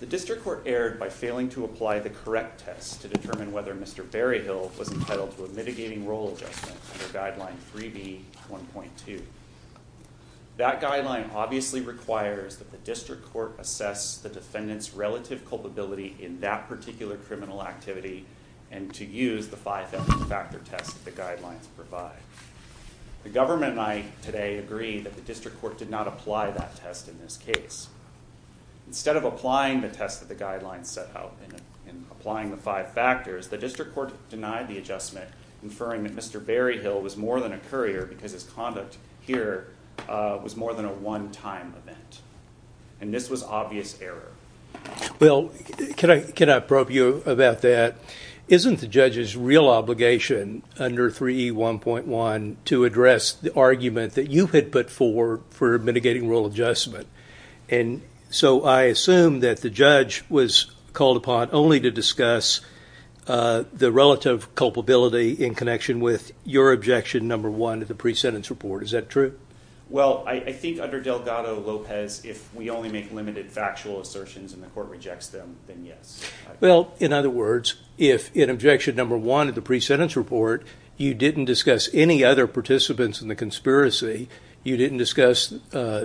The District Court erred by failing to apply the correct test to determine whether Mr. Berryhill was more than a courier because his conduct here was more than a one-time event, and this was obvious error. Well, can I probe you about that? Isn't the judge's real obligation under 3E1.1 to address the argument that you had put forward for mitigating rule adjustment? And so I assume that the judge was called upon only to discuss the relative culpability in connection with your objection number one of the pre-sentence report. Is that true? Well, I think under Delgado-Lopez, if we only make limited factual assertions and the court rejects them, then yes. Well, in other words, if in objection number one of the pre-sentence report you didn't discuss any other participants in the conspiracy, you didn't discuss the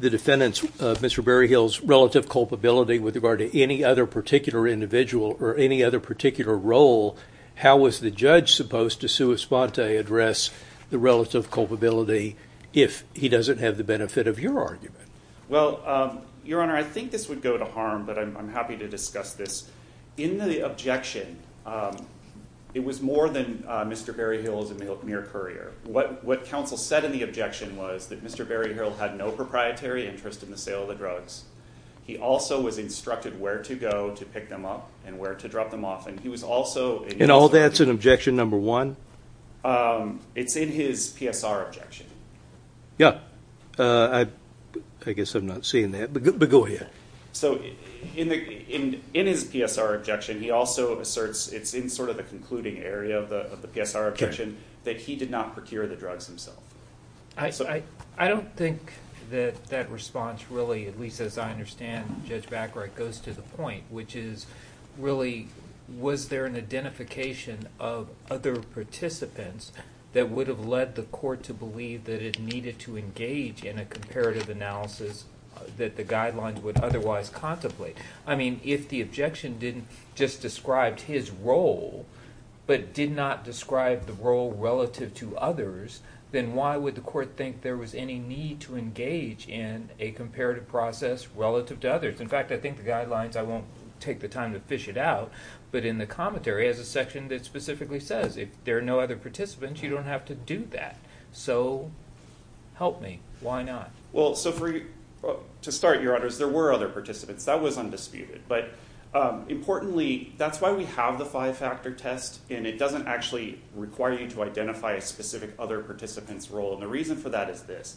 defendant's, Mr. Berryhill's, relative culpability with regard to any other particular individual or any other particular role, how was the judge supposed to sui sponte address the relative culpability if he doesn't have the benefit of your argument? Well, Your Honor, I think this would go to harm, but I'm happy to discuss this. In the objection, it was more than Mr. Berryhill as a mere courier. What counsel said in the objection was that Mr. Berryhill had no proprietary interest in the sale of the drugs. He also was instructed where to go to pick them up and where to drop them off. And all that's in objection number one? It's in his PSR objection. Yeah. I guess I'm not seeing that, but go ahead. So in his PSR objection, he also asserts it's in sort of the concluding area of the PSR objection that he did not procure the drugs himself. I don't think that that response really, at least as I understand, Judge Backright, goes to the point, which is really was there an identification of other participants that would have led the court to believe that it needed to engage in a comparative analysis that the guidelines would otherwise contemplate? I mean, if the objection didn't just describe his role but did not describe the role relative to others, then why would the court think there was any need to engage in a comparative process relative to others? In fact, I think the guidelines, I won't take the time to fish it out, but in the commentary, it has a section that specifically says if there are no other participants, you don't have to do that. So help me. Why not? Well, so to start, Your Honors, there were other participants. That was undisputed. But importantly, that's why we have the five-factor test, and it doesn't actually require you to identify a specific other participant's role. And the reason for that is this.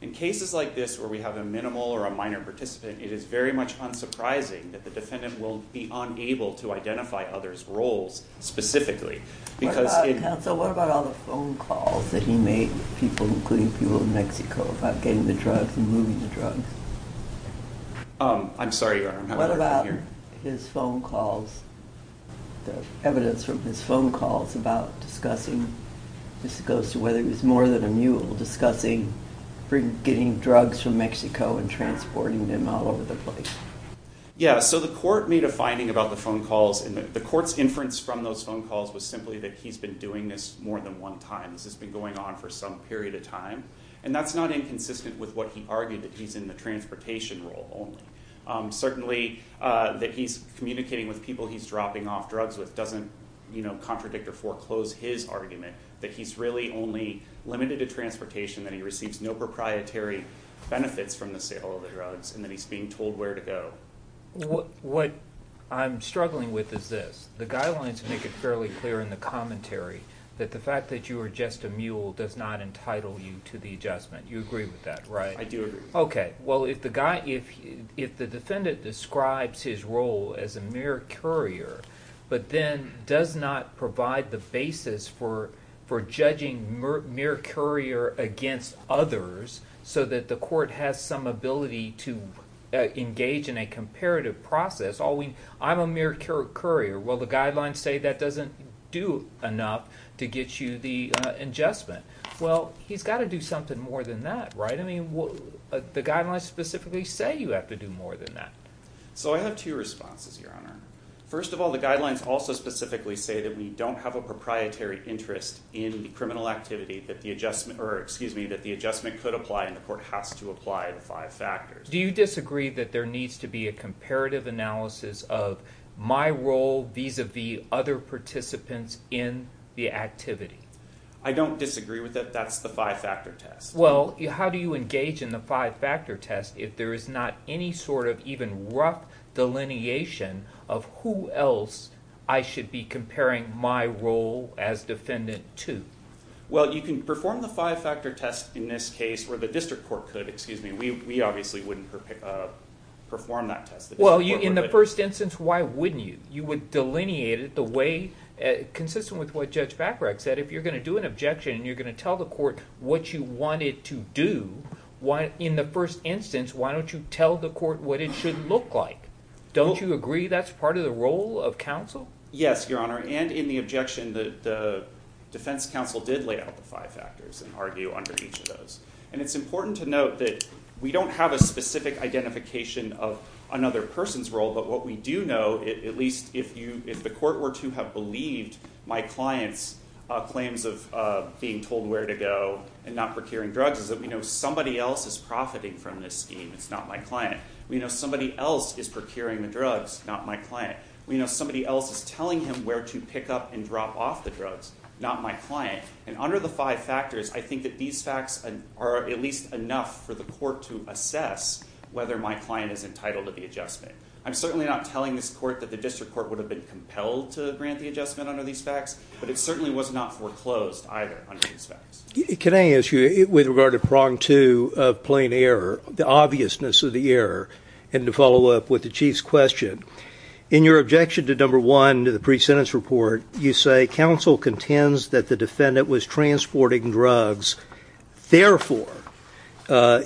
In cases like this where we have a minimal or a minor participant, it is very much unsurprising that the defendant will be unable to identify others' roles specifically. Counsel, what about all the phone calls that he made to people, including people in Mexico, about getting the drugs and moving the drugs? I'm sorry, Your Honor, I'm having a hard time hearing. What about his phone calls, the evidence from his phone calls about discussing, this goes to whether he was more than a mule, discussing getting drugs from Mexico and transporting them all over the place? Yeah, so the court made a finding about the phone calls, and the court's inference from those phone calls was simply that he's been doing this more than one time. This has been going on for some period of time, and that's not inconsistent with what he argued, that he's in the transportation role only. Certainly, that he's communicating with people he's dropping off drugs with doesn't contradict or foreclose his argument that he's really only limited to transportation, that he receives no proprietary benefits from the sale of the drugs, and that he's being told where to go. What I'm struggling with is this. The guidelines make it fairly clear in the commentary that the fact that you are just a mule does not entitle you to the adjustment. You agree with that, right? I do agree. Okay, well, if the defendant describes his role as a mere courier, but then does not provide the basis for judging mere courier against others so that the court has some ability to engage in a comparative process, I'm a mere courier, well, the guidelines say that doesn't do enough to get you the adjustment. Well, he's got to do something more than that, right? I mean, the guidelines specifically say you have to do more than that. So I have two responses, Your Honor. First of all, the guidelines also specifically say that we don't have a proprietary interest in the criminal activity that the adjustment could apply and the court has to apply the five factors. Do you disagree that there needs to be a comparative analysis of my role vis-a-vis other participants in the activity? I don't disagree with that. That's the five-factor test. Well, how do you engage in the five-factor test if there is not any sort of even rough delineation of who else I should be comparing my role as defendant to? Well, you can perform the five-factor test in this case where the district court could, excuse me. We obviously wouldn't perform that test. Well, in the first instance, why wouldn't you? You would delineate it the way – consistent with what Judge Bacharach said. If you're going to do an objection and you're going to tell the court what you want it to do, in the first instance, why don't you tell the court what it should look like? Don't you agree that's part of the role of counsel? Yes, Your Honor, and in the objection, the defense counsel did lay out the five factors and argue under each of those. And it's important to note that we don't have a specific identification of another person's role. But what we do know, at least if the court were to have believed my client's claims of being told where to go and not procuring drugs, is that we know somebody else is profiting from this scheme. It's not my client. We know somebody else is procuring the drugs, not my client. We know somebody else is telling him where to pick up and drop off the drugs, not my client. And under the five factors, I think that these facts are at least enough for the court to assess whether my client is entitled to the adjustment. I'm certainly not telling this court that the district court would have been compelled to grant the adjustment under these facts, but it certainly was not foreclosed either under these facts. Can I ask you, with regard to prong two of plain error, the obviousness of the error, and to follow up with the Chief's question, in your objection to number one, the pre-sentence report, you say counsel contends that the defendant was transporting drugs. Therefore,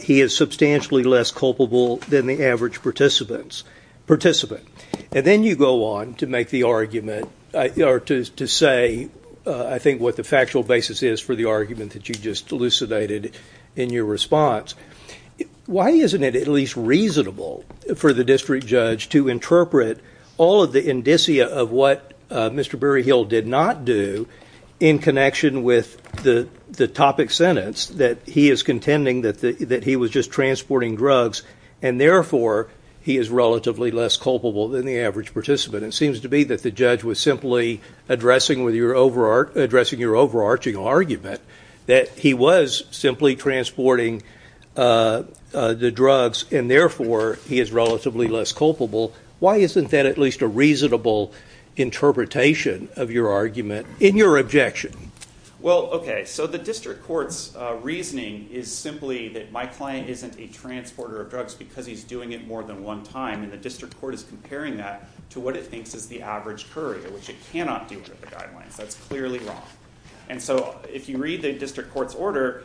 he is substantially less culpable than the average participant. And then you go on to make the argument or to say, I think, what the factual basis is for the argument that you just elucidated in your response. Why isn't it at least reasonable for the district judge to interpret all of the indicia of what Mr. Berryhill did not do in connection with the topic sentence, that he is contending that he was just transporting drugs, and therefore, he is relatively less culpable than the average participant? It seems to be that the judge was simply addressing your overarching argument that he was simply transporting the drugs, and therefore, he is relatively less culpable. Why isn't that at least a reasonable interpretation of your argument in your objection? Well, okay, so the district court's reasoning is simply that my client isn't a transporter of drugs because he's doing it more than one time. And the district court is comparing that to what it thinks is the average courier, which it cannot do under the guidelines. That's clearly wrong. And so if you read the district court's order,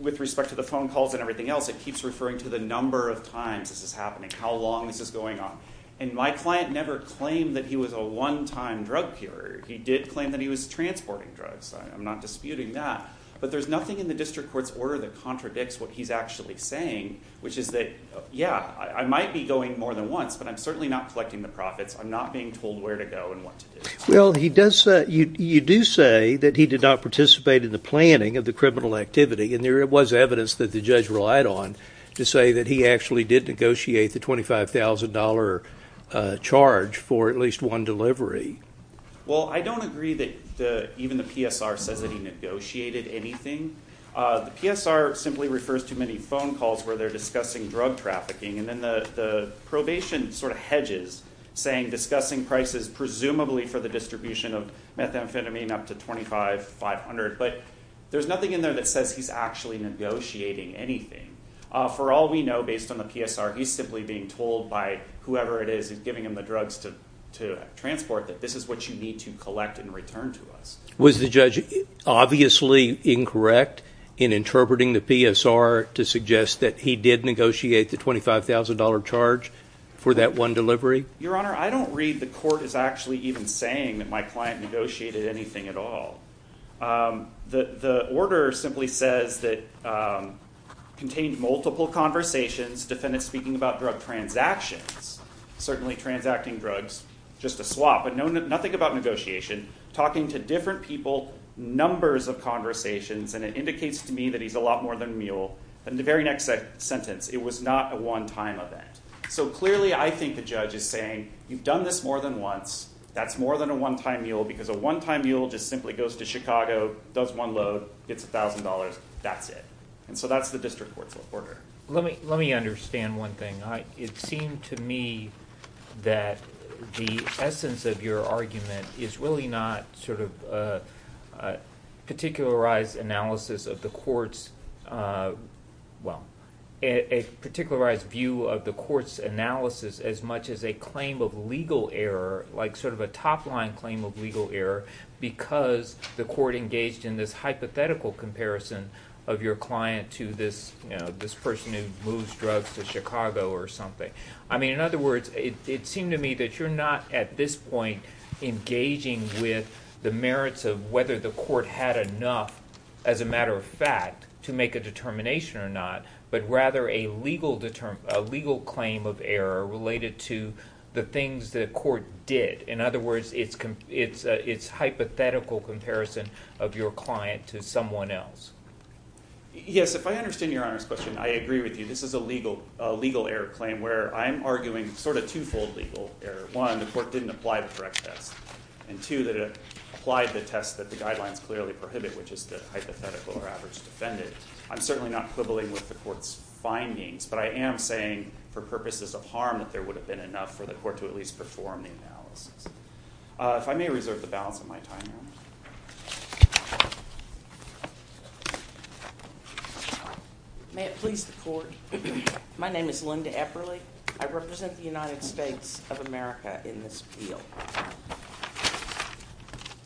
with respect to the phone calls and everything else, it keeps referring to the number of times this is happening, how long this is going on. And my client never claimed that he was a one-time drug curer. He did claim that he was transporting drugs. I'm not disputing that. But there's nothing in the district court's order that contradicts what he's actually saying, which is that, yeah, I might be going more than once, but I'm certainly not collecting the profits. I'm not being told where to go and what to do. Well, you do say that he did not participate in the planning of the criminal activity, and there was evidence that the judge relied on to say that he actually did negotiate the $25,000 charge for at least one delivery. Well, I don't agree that even the PSR says that he negotiated anything. The PSR simply refers to many phone calls where they're discussing drug trafficking, and then the probation sort of hedges, saying discussing prices presumably for the distribution of methamphetamine up to $25,500. But there's nothing in there that says he's actually negotiating anything. For all we know, based on the PSR, he's simply being told by whoever it is giving him the drugs to transport that this is what you need to collect in return to us. Was the judge obviously incorrect in interpreting the PSR to suggest that he did negotiate the $25,000 charge for that one delivery? Your Honor, I don't read the court as actually even saying that my client negotiated anything at all. The order simply says that it contained multiple conversations, defendants speaking about drug transactions, certainly transacting drugs, just a swap, but nothing about negotiation, talking to different people, numbers of conversations, and it indicates to me that he's a lot more than a mule. In the very next sentence, it was not a one-time event. So clearly, I think the judge is saying you've done this more than once, that's more than a one-time mule, because a one-time mule just simply goes to Chicago, does one load, gets $1,000, that's it. And so that's the district court's order. Let me understand one thing. It seemed to me that the essence of your argument is really not sort of a particularized analysis of the court's – well, a particularized view of the court's analysis as much as a claim of legal error, like sort of a top-line claim of legal error because the court engaged in this hypothetical comparison of your client to this person who moves drugs to Chicago or something. I mean, in other words, it seemed to me that you're not at this point engaging with the merits of whether the court had enough, as a matter of fact, to make a determination or not, but rather a legal claim of error related to the things the court did. In other words, it's a hypothetical comparison of your client to someone else. Yes, if I understand Your Honor's question, I agree with you. This is a legal error claim where I'm arguing sort of two-fold legal error. One, the court didn't apply the correct test. And two, that it applied the test that the guidelines clearly prohibit, which is the hypothetical or average defendant. I'm certainly not quibbling with the court's findings, but I am saying for purposes of harm that there would have been enough for the court to at least perform the analysis. If I may reserve the balance of my time, Your Honor. May it please the court, my name is Linda Epperle. I represent the United States of America in this appeal.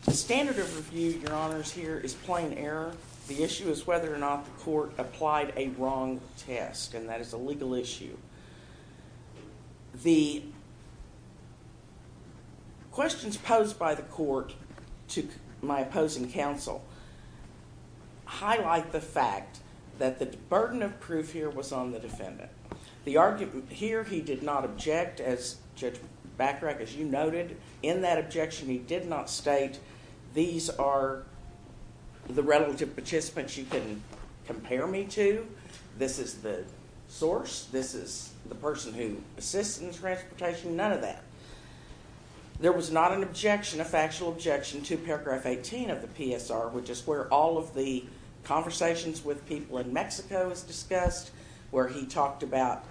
The standard of review, Your Honors, here is plain error. The issue is whether or not the court applied a wrong test, and that is a legal issue. The questions posed by the court to my opposing counsel highlight the fact that the burden of proof here was on the defendant. The argument here, he did not object, Judge Bachrach, as you noted. In that objection, he did not state, these are the relative participants you can compare me to. This is the source, this is the person who assists in the transportation, none of that. There was not an objection, a factual objection, to paragraph 18 of the PSR, which is where all of the conversations with people in Mexico is discussed, where he talked about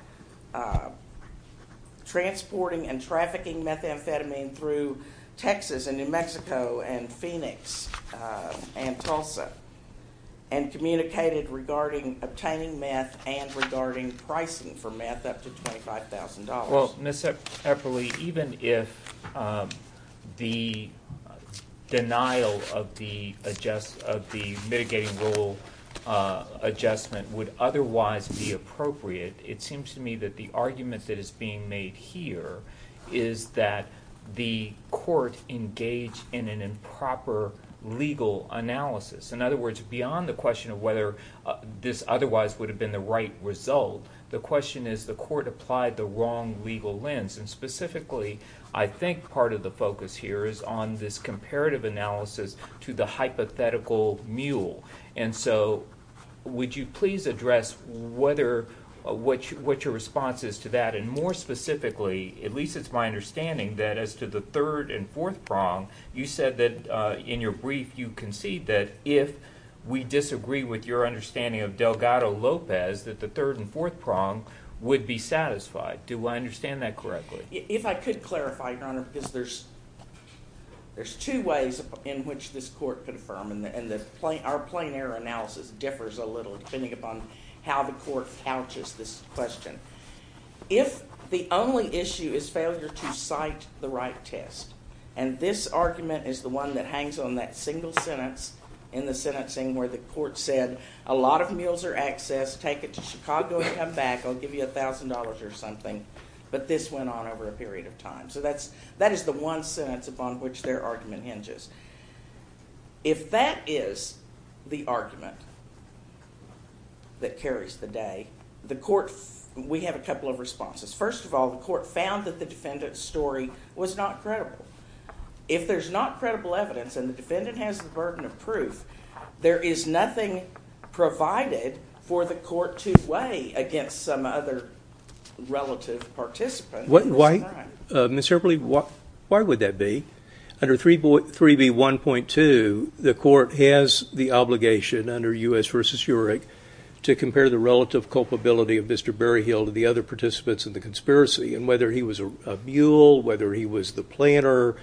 transporting and trafficking methamphetamine through Texas and New Mexico and Phoenix and Tulsa, and communicated regarding obtaining meth and regarding pricing for meth up to $25,000. Well, Ms. Epperle, even if the denial of the mitigating rule adjustment would otherwise be appropriate, it seems to me that the argument that is being made here is that the court engaged in an improper legal analysis. In other words, beyond the question of whether this otherwise would have been the right result, the question is the court applied the wrong legal lens, and specifically I think part of the focus here is on this comparative analysis to the hypothetical mule. And so would you please address what your response is to that, and more specifically, at least it's my understanding that as to the third and fourth prong, you said that in your brief you concede that if we disagree with your understanding of Delgado-Lopez, that the third and fourth prong would be satisfied. Do I understand that correctly? If I could clarify, Your Honor, because there's two ways in which this court could affirm, and our plain error analysis differs a little depending upon how the court couches this question. If the only issue is failure to cite the right test, and this argument is the one that hangs on that single sentence in the sentencing where the court said, a lot of mules are accessed, take it to Chicago and come back, I'll give you $1,000 or something, but this went on over a period of time. So that is the one sentence upon which their argument hinges. If that is the argument that carries the day, we have a couple of responses. First of all, the court found that the defendant's story was not credible. If there's not credible evidence and the defendant has the burden of proof, there is nothing provided for the court to weigh against some other relative participant. Ms. Herberle, why would that be? Under 3B1.2, the court has the obligation under U.S. v. Heurich to compare the relative culpability of Mr. Berryhill to the other participants in the conspiracy, and whether he was a mule, whether he was the planter,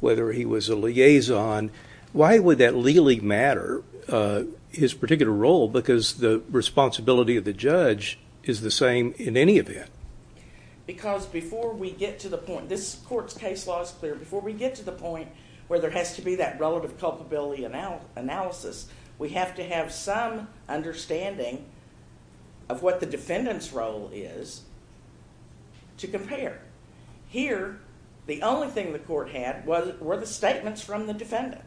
whether he was a liaison, why would that legally matter, his particular role, because the responsibility of the judge is the same in any event? Because before we get to the point, this court's case law is clear, before we get to the point where there has to be that relative culpability analysis, we have to have some understanding of what the defendant's role is to compare. Here, the only thing the court had were the statements from the defendant,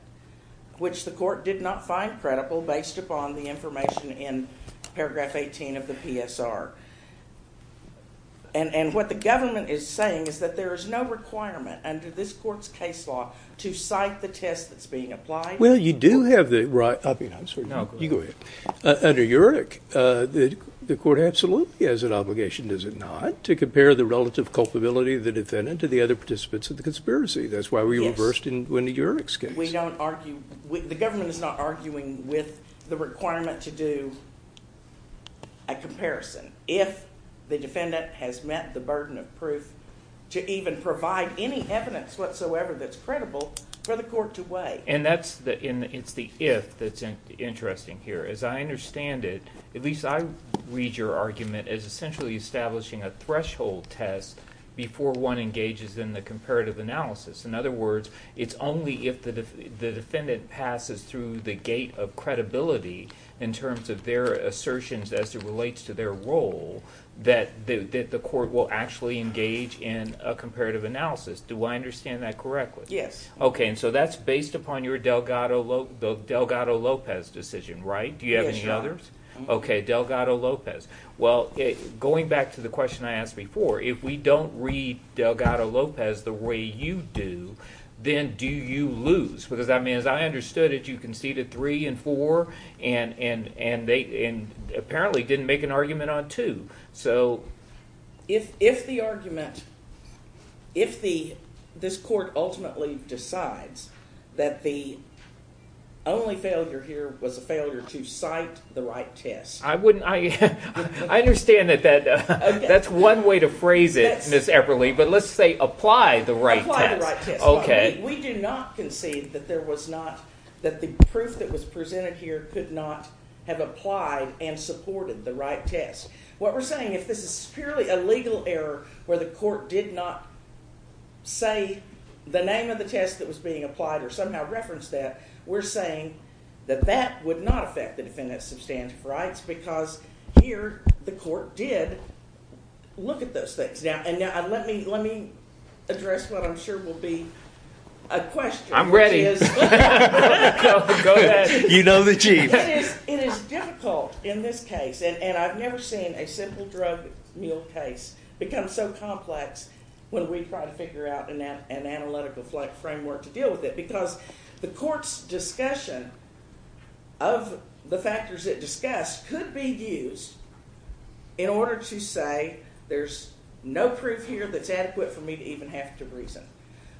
which the court did not find credible based upon the information in paragraph 18 of the PSR. And what the government is saying is that there is no requirement under this court's case law to cite the test that's being applied. Well, you do have the right, I mean, I'm sorry. No, go ahead. You go ahead. Under Heurich, the court absolutely has an obligation, does it not, to compare the relative culpability of the defendant to the other participants in the conspiracy. That's why we reversed in Wendy Heurich's case. The government is not arguing with the requirement to do a comparison if the defendant has met the burden of proof to even provide any evidence whatsoever that's credible for the court to weigh. And it's the if that's interesting here. As I understand it, at least I read your argument as essentially establishing a threshold test before one engages in the comparative analysis. In other words, it's only if the defendant passes through the gate of credibility in terms of their assertions as it relates to their role that the court will actually engage in a comparative analysis. Do I understand that correctly? Yes. Okay, and so that's based upon your Delgado-Lopez decision, right? Yes, Your Honor. Do you have any others? Okay, Delgado-Lopez. Well, going back to the question I asked before, if we don't read Delgado-Lopez the way you do, then do you lose? Because, I mean, as I understood it, you conceded three and four, and apparently didn't make an argument on two. So if the argument, if this court ultimately decides that the only failure here was a failure to cite the right test. I understand that that's one way to phrase it, Ms. Eberly, but let's say apply the right test. Apply the right test. Okay. We do not concede that the proof that was presented here could not have applied and supported the right test. What we're saying, if this is purely a legal error where the court did not say the name of the test that was being applied or somehow referenced that, we're saying that that would not affect the defendant's substantive rights because here the court did look at those things. Now, let me address what I'm sure will be a question. I'm ready. Go ahead. You know the chief. It is difficult in this case, and I've never seen a simple drug mill case become so complex when we try to figure out an analytical framework to deal with it because the court's discussion of the factors it discussed could be used in order to say there's no proof here that's adequate for me to even have to reason.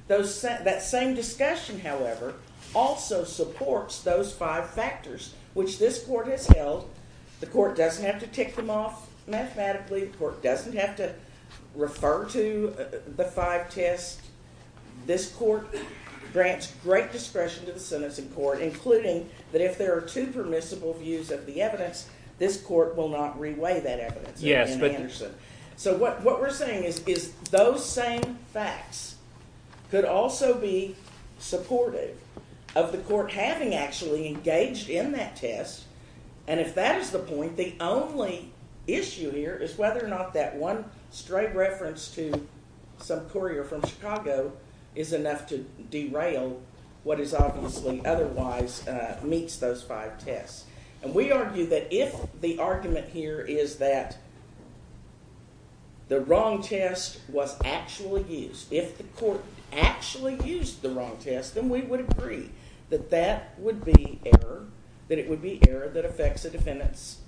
That same discussion, however, also supports those five factors, which this court has held. The court doesn't have to tick them off mathematically. The court doesn't have to refer to the five tests. This court grants great discretion to the sentencing court, including that if there are two permissible views of the evidence, this court will not reweigh that evidence. So what we're saying is those same facts could also be supportive of the court having actually engaged in that test, and if that is the point, the only issue here is whether or not that one straight reference to some courier from Chicago is enough to derail what is obviously otherwise meets those five tests. And we argue that if the argument here is that the wrong test was actually used, if the court actually used the wrong test, then we would agree that that would be error, that it would be error that affects a defendant's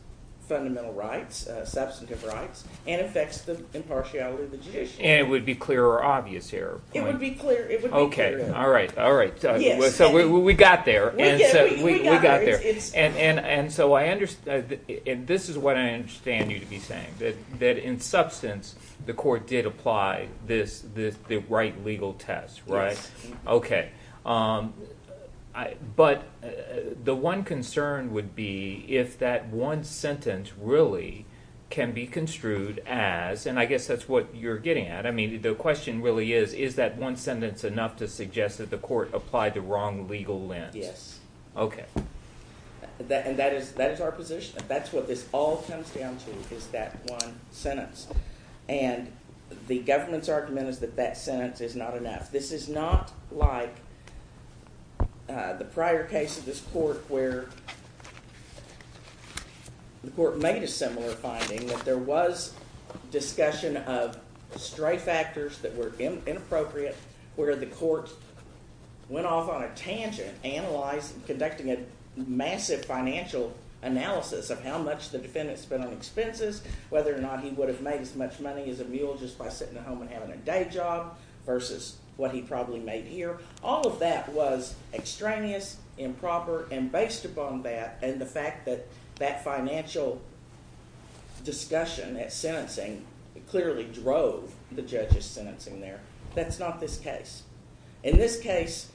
fundamental rights, substantive rights, and affects the impartiality of the judiciary. And it would be clear or obvious error. It would be clear. Okay, all right, all right. So we got there. We got there. And so I understand, and this is what I understand you to be saying, that in substance the court did apply the right legal test, right? Yes. Okay. But the one concern would be if that one sentence really can be construed as, and I guess that's what you're getting at, I mean the question really is, is that one sentence enough to suggest that the court applied the wrong legal lens? Okay. And that is our position. That's what this all comes down to is that one sentence. And the government's argument is that that sentence is not enough. This is not like the prior case of this court where the court made a similar finding, that there was discussion of stray factors that were inappropriate, where the court went off on a tangent, conducting a massive financial analysis of how much the defendant spent on expenses, whether or not he would have made as much money as a mule just by sitting at home and having a day job, versus what he probably made here. All of that was extraneous, improper, and based upon that, and the fact that that financial discussion, that sentencing, clearly drove the judge's sentencing there. That's not this case. In this case,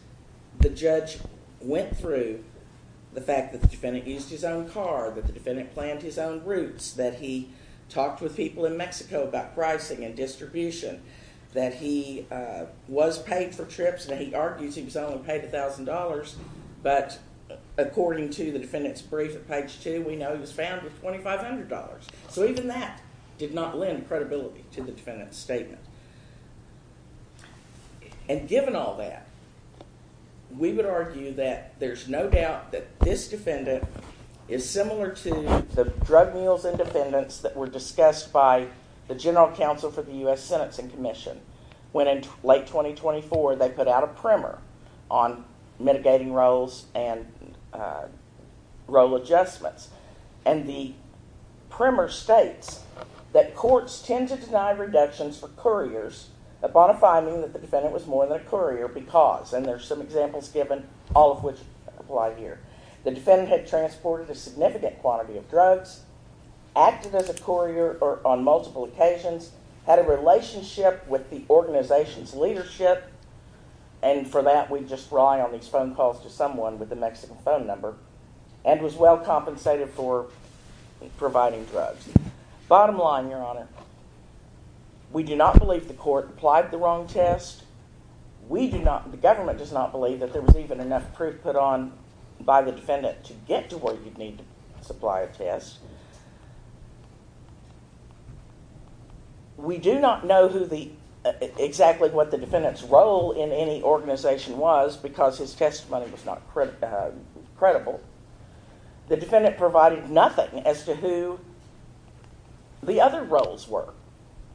the judge went through the fact that the defendant used his own car, that the defendant planned his own routes, that he talked with people in Mexico about pricing and distribution, that he was paid for trips, and he argues he was only paid $1,000, but according to the defendant's brief at page 2, we know he was found with $2,500. So even that did not lend credibility to the defendant's statement. And given all that, we would argue that there's no doubt that this defendant is similar to the drug mules and defendants that were discussed by the General Counsel for the U.S. Sentencing Commission when in late 2024 they put out a primer on mitigating roles and role adjustments. And the primer states that courts tend to deny reductions for couriers upon a finding that the defendant was more than a courier because, and there's some examples given, all of which apply here, the defendant had transported a significant quantity of drugs, acted as a courier on multiple occasions, had a relationship with the organization's leadership, and for that we just rely on these phone calls to someone with a Mexican phone number, and was well compensated for providing drugs. Bottom line, Your Honor, we do not believe the court applied the wrong test. The government does not believe that there was even enough proof put on by the defendant to get to where you'd need to supply a test. We do not know exactly what the defendant's role in any organization was because his testimony was not credible. The defendant provided nothing as to who the other roles were.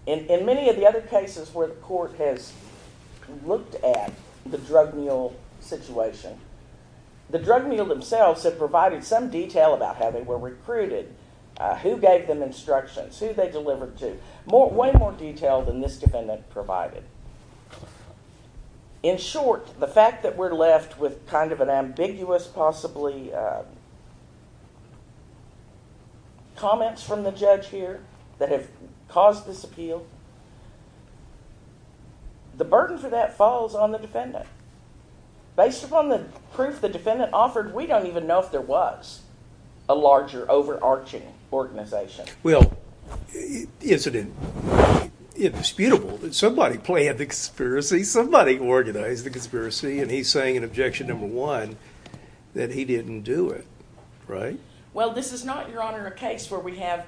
In many of the other cases where the court has looked at the drug mule situation, the drug mule themselves have provided some detail about how they were recruited, who gave them instructions, who they delivered to, way more detail than this defendant provided. In short, the fact that we're left with kind of an ambiguous possibly comments from the judge here that have caused this appeal, the burden for that falls on the defendant. Based upon the proof the defendant offered, we don't even know if there was a larger overarching organization. Well, is it indisputable that somebody planned the conspiracy, somebody organized the conspiracy, and he's saying in objection number one that he didn't do it, right? Well, this is not, Your Honor, a case where we have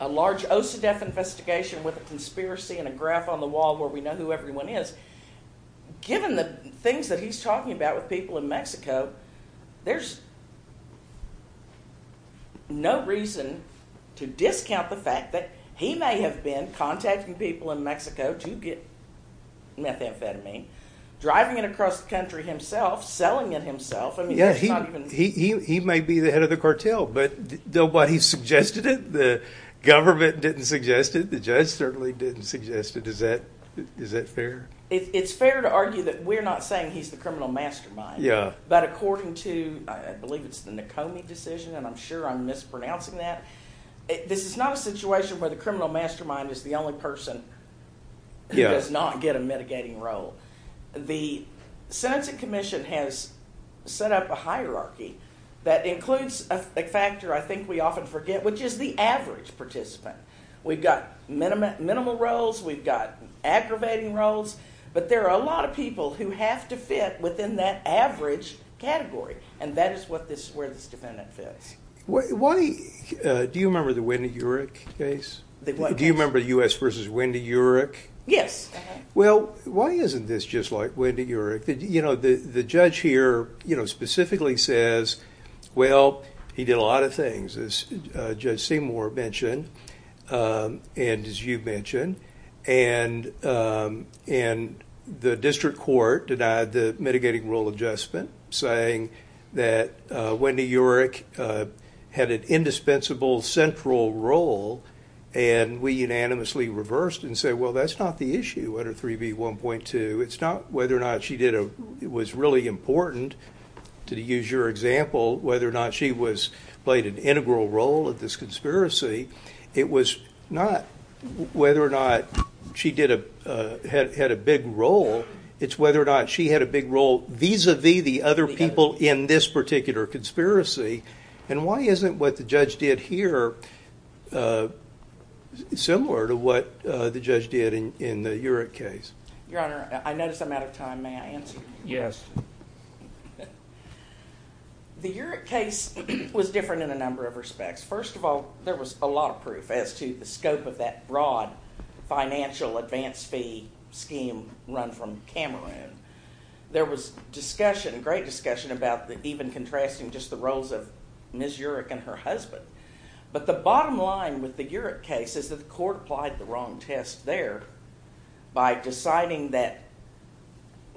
a large OSODEF investigation with a conspiracy and a graph on the wall where we know who everyone is. Given the things that he's talking about with people in Mexico, there's no reason to discount the fact that he may have been contacting people in Mexico to get methamphetamine, driving it across the country himself, selling it himself. He may be the head of the cartel, but nobody suggested it. The government didn't suggest it. The judge certainly didn't suggest it. Is that fair? It's fair to argue that we're not saying he's the criminal mastermind, but according to, I believe it's the Nekomi decision, and I'm sure I'm mispronouncing that, this is not a situation where the criminal mastermind is the only person who does not get a mitigating role. The Sentencing Commission has set up a hierarchy that includes a factor I think we often forget, which is the average participant. We've got minimal roles, we've got aggravating roles, but there are a lot of people who have to fit within that average category, and that is where this defendant fits. Do you remember the Wendy Urick case? Do you remember U.S. v. Wendy Urick? Yes. Well, why isn't this just like Wendy Urick? The judge here specifically says, well, he did a lot of things, as Judge Seymour mentioned and as you mentioned, and the district court denied the mitigating role adjustment, saying that Wendy Urick had an indispensable central role, and we unanimously reversed and said, well, that's not the issue under 3B1.2. It's not whether or not she was really important, to use your example, whether or not she played an integral role in this conspiracy. It was not whether or not she had a big role. It's whether or not she had a big role vis-à-vis the other people in this particular conspiracy, and why isn't what the judge did here similar to what the judge did in the Urick case? Your Honor, I notice I'm out of time. May I answer? Yes. The Urick case was different in a number of respects. First of all, there was a lot of proof as to the scope of that broad financial advance fee scheme run from Cameroon. There was discussion, great discussion, about even contrasting just the roles of Ms. Urick and her husband, but the bottom line with the Urick case is that the court applied the wrong test there by deciding that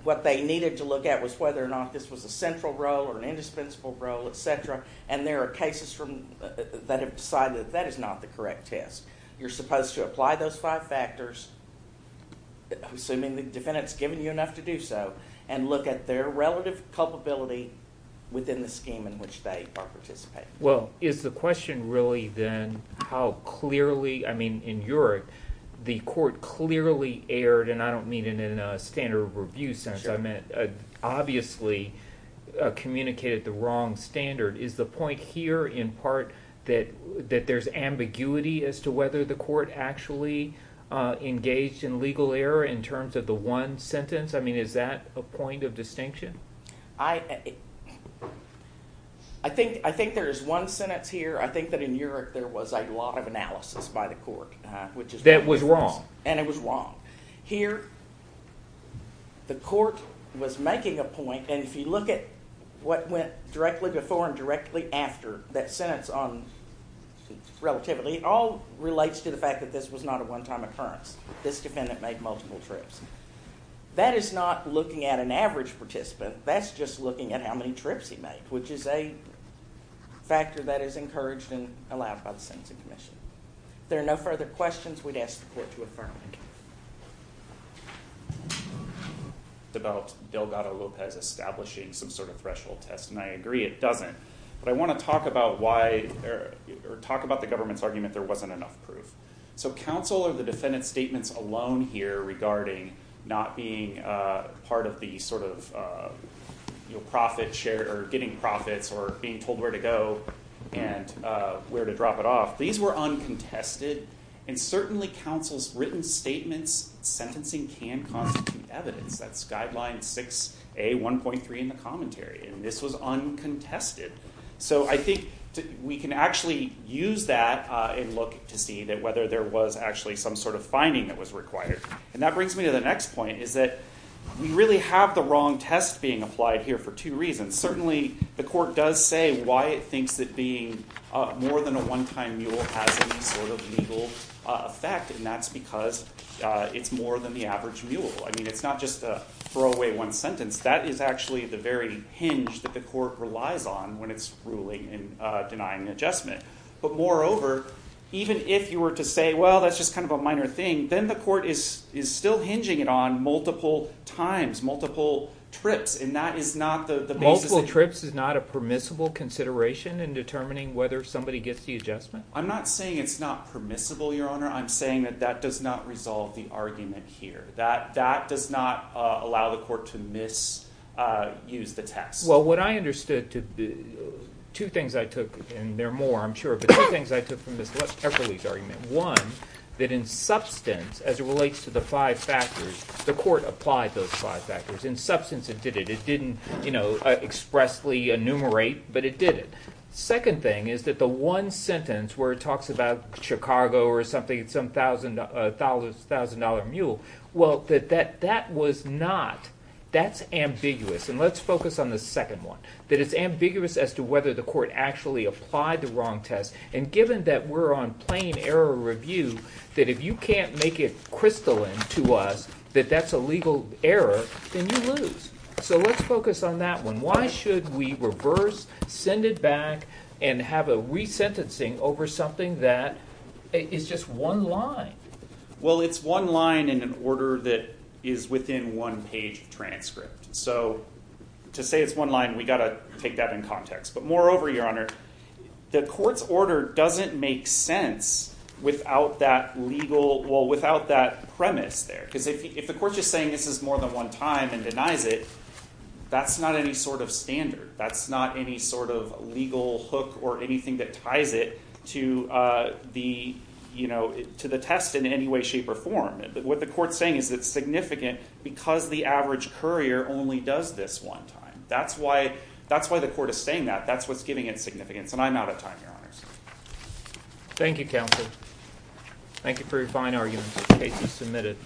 what they needed to look at was whether or not this was a central role or an indispensable role, et cetera, and there are cases that have decided that that is not the correct test. You're supposed to apply those five factors, assuming the defendant's given you enough to do so, and look at their relative culpability within the scheme in which they are participating. Well, is the question really then how clearly, I mean, in Urick, the court clearly aired, and I don't mean it in a standard review sense, I meant obviously communicated the wrong standard. Is the point here in part that there's ambiguity as to whether the court actually engaged in legal error in terms of the one sentence? I mean, is that a point of distinction? I think there is one sentence here. I think that in Urick there was a lot of analysis by the court. That was wrong. And it was wrong. Here the court was making a point, and if you look at what went directly before and directly after that sentence on relativity, it all relates to the fact that this was not a one-time occurrence. This defendant made multiple trips. That is not looking at an average participant. That's just looking at how many trips he made, which is a factor that is encouraged and allowed by the Sentencing Commission. If there are no further questions, we'd ask the court to affirm. It's about Delgado-Lopez establishing some sort of threshold test, and I agree it doesn't, but I want to talk about the government's argument there wasn't enough proof. So counsel or the defendant's statements alone here regarding not being part of the sort of profit share or getting profits or being told where to go and where to drop it off, these were uncontested, and certainly counsel's written statements, sentencing can constitute evidence. That's Guideline 6A1.3 in the commentary, and this was uncontested. So I think we can actually use that and look to see whether there was actually some sort of finding that was required. And that brings me to the next point, is that we really have the wrong test being applied here for two reasons. Certainly the court does say why it thinks that being more than a one-time mule has any sort of legal effect, and that's because it's more than the average mule. I mean, it's not just a throwaway one sentence. That is actually the very hinge that the court relies on when it's ruling and denying an adjustment. But moreover, even if you were to say, well, that's just kind of a minor thing, then the court is still hinging it on multiple times, multiple trips, and that is not the basis. Multiple trips is not a permissible consideration in determining whether somebody gets the adjustment? I'm not saying it's not permissible, Your Honor. I'm saying that that does not resolve the argument here. That does not allow the court to misuse the test. Well, what I understood, two things I took, and there are more, I'm sure, but two things I took from Ms. Epperle's argument. One, that in substance, as it relates to the five factors, the court applied those five factors. In substance, it did it. It didn't expressly enumerate, but it did it. Second thing is that the one sentence where it talks about Chicago or something, some thousand-dollar mule, well, that that was not. That's ambiguous, and let's focus on the second one, that it's ambiguous as to whether the court actually applied the wrong test, and given that we're on plain error review, that if you can't make it crystalline to us that that's a legal error, then you lose, so let's focus on that one. Why should we reverse, send it back, and have a resentencing over something that is just one line? Well, it's one line in an order that is within one page of transcript, so to say it's one line, we've got to take that in context, but moreover, Your Honor, the court's order doesn't make sense without that premise there because if the court's just saying this is more than one time and denies it, that's not any sort of standard. That's not any sort of legal hook or anything that ties it to the test in any way, shape, or form. What the court's saying is it's significant because the average courier only does this one time. That's why the court is saying that. That's what's giving it significance, and I'm out of time, Your Honors. Thank you, counsel. Thank you for your fine arguments in case you submitted.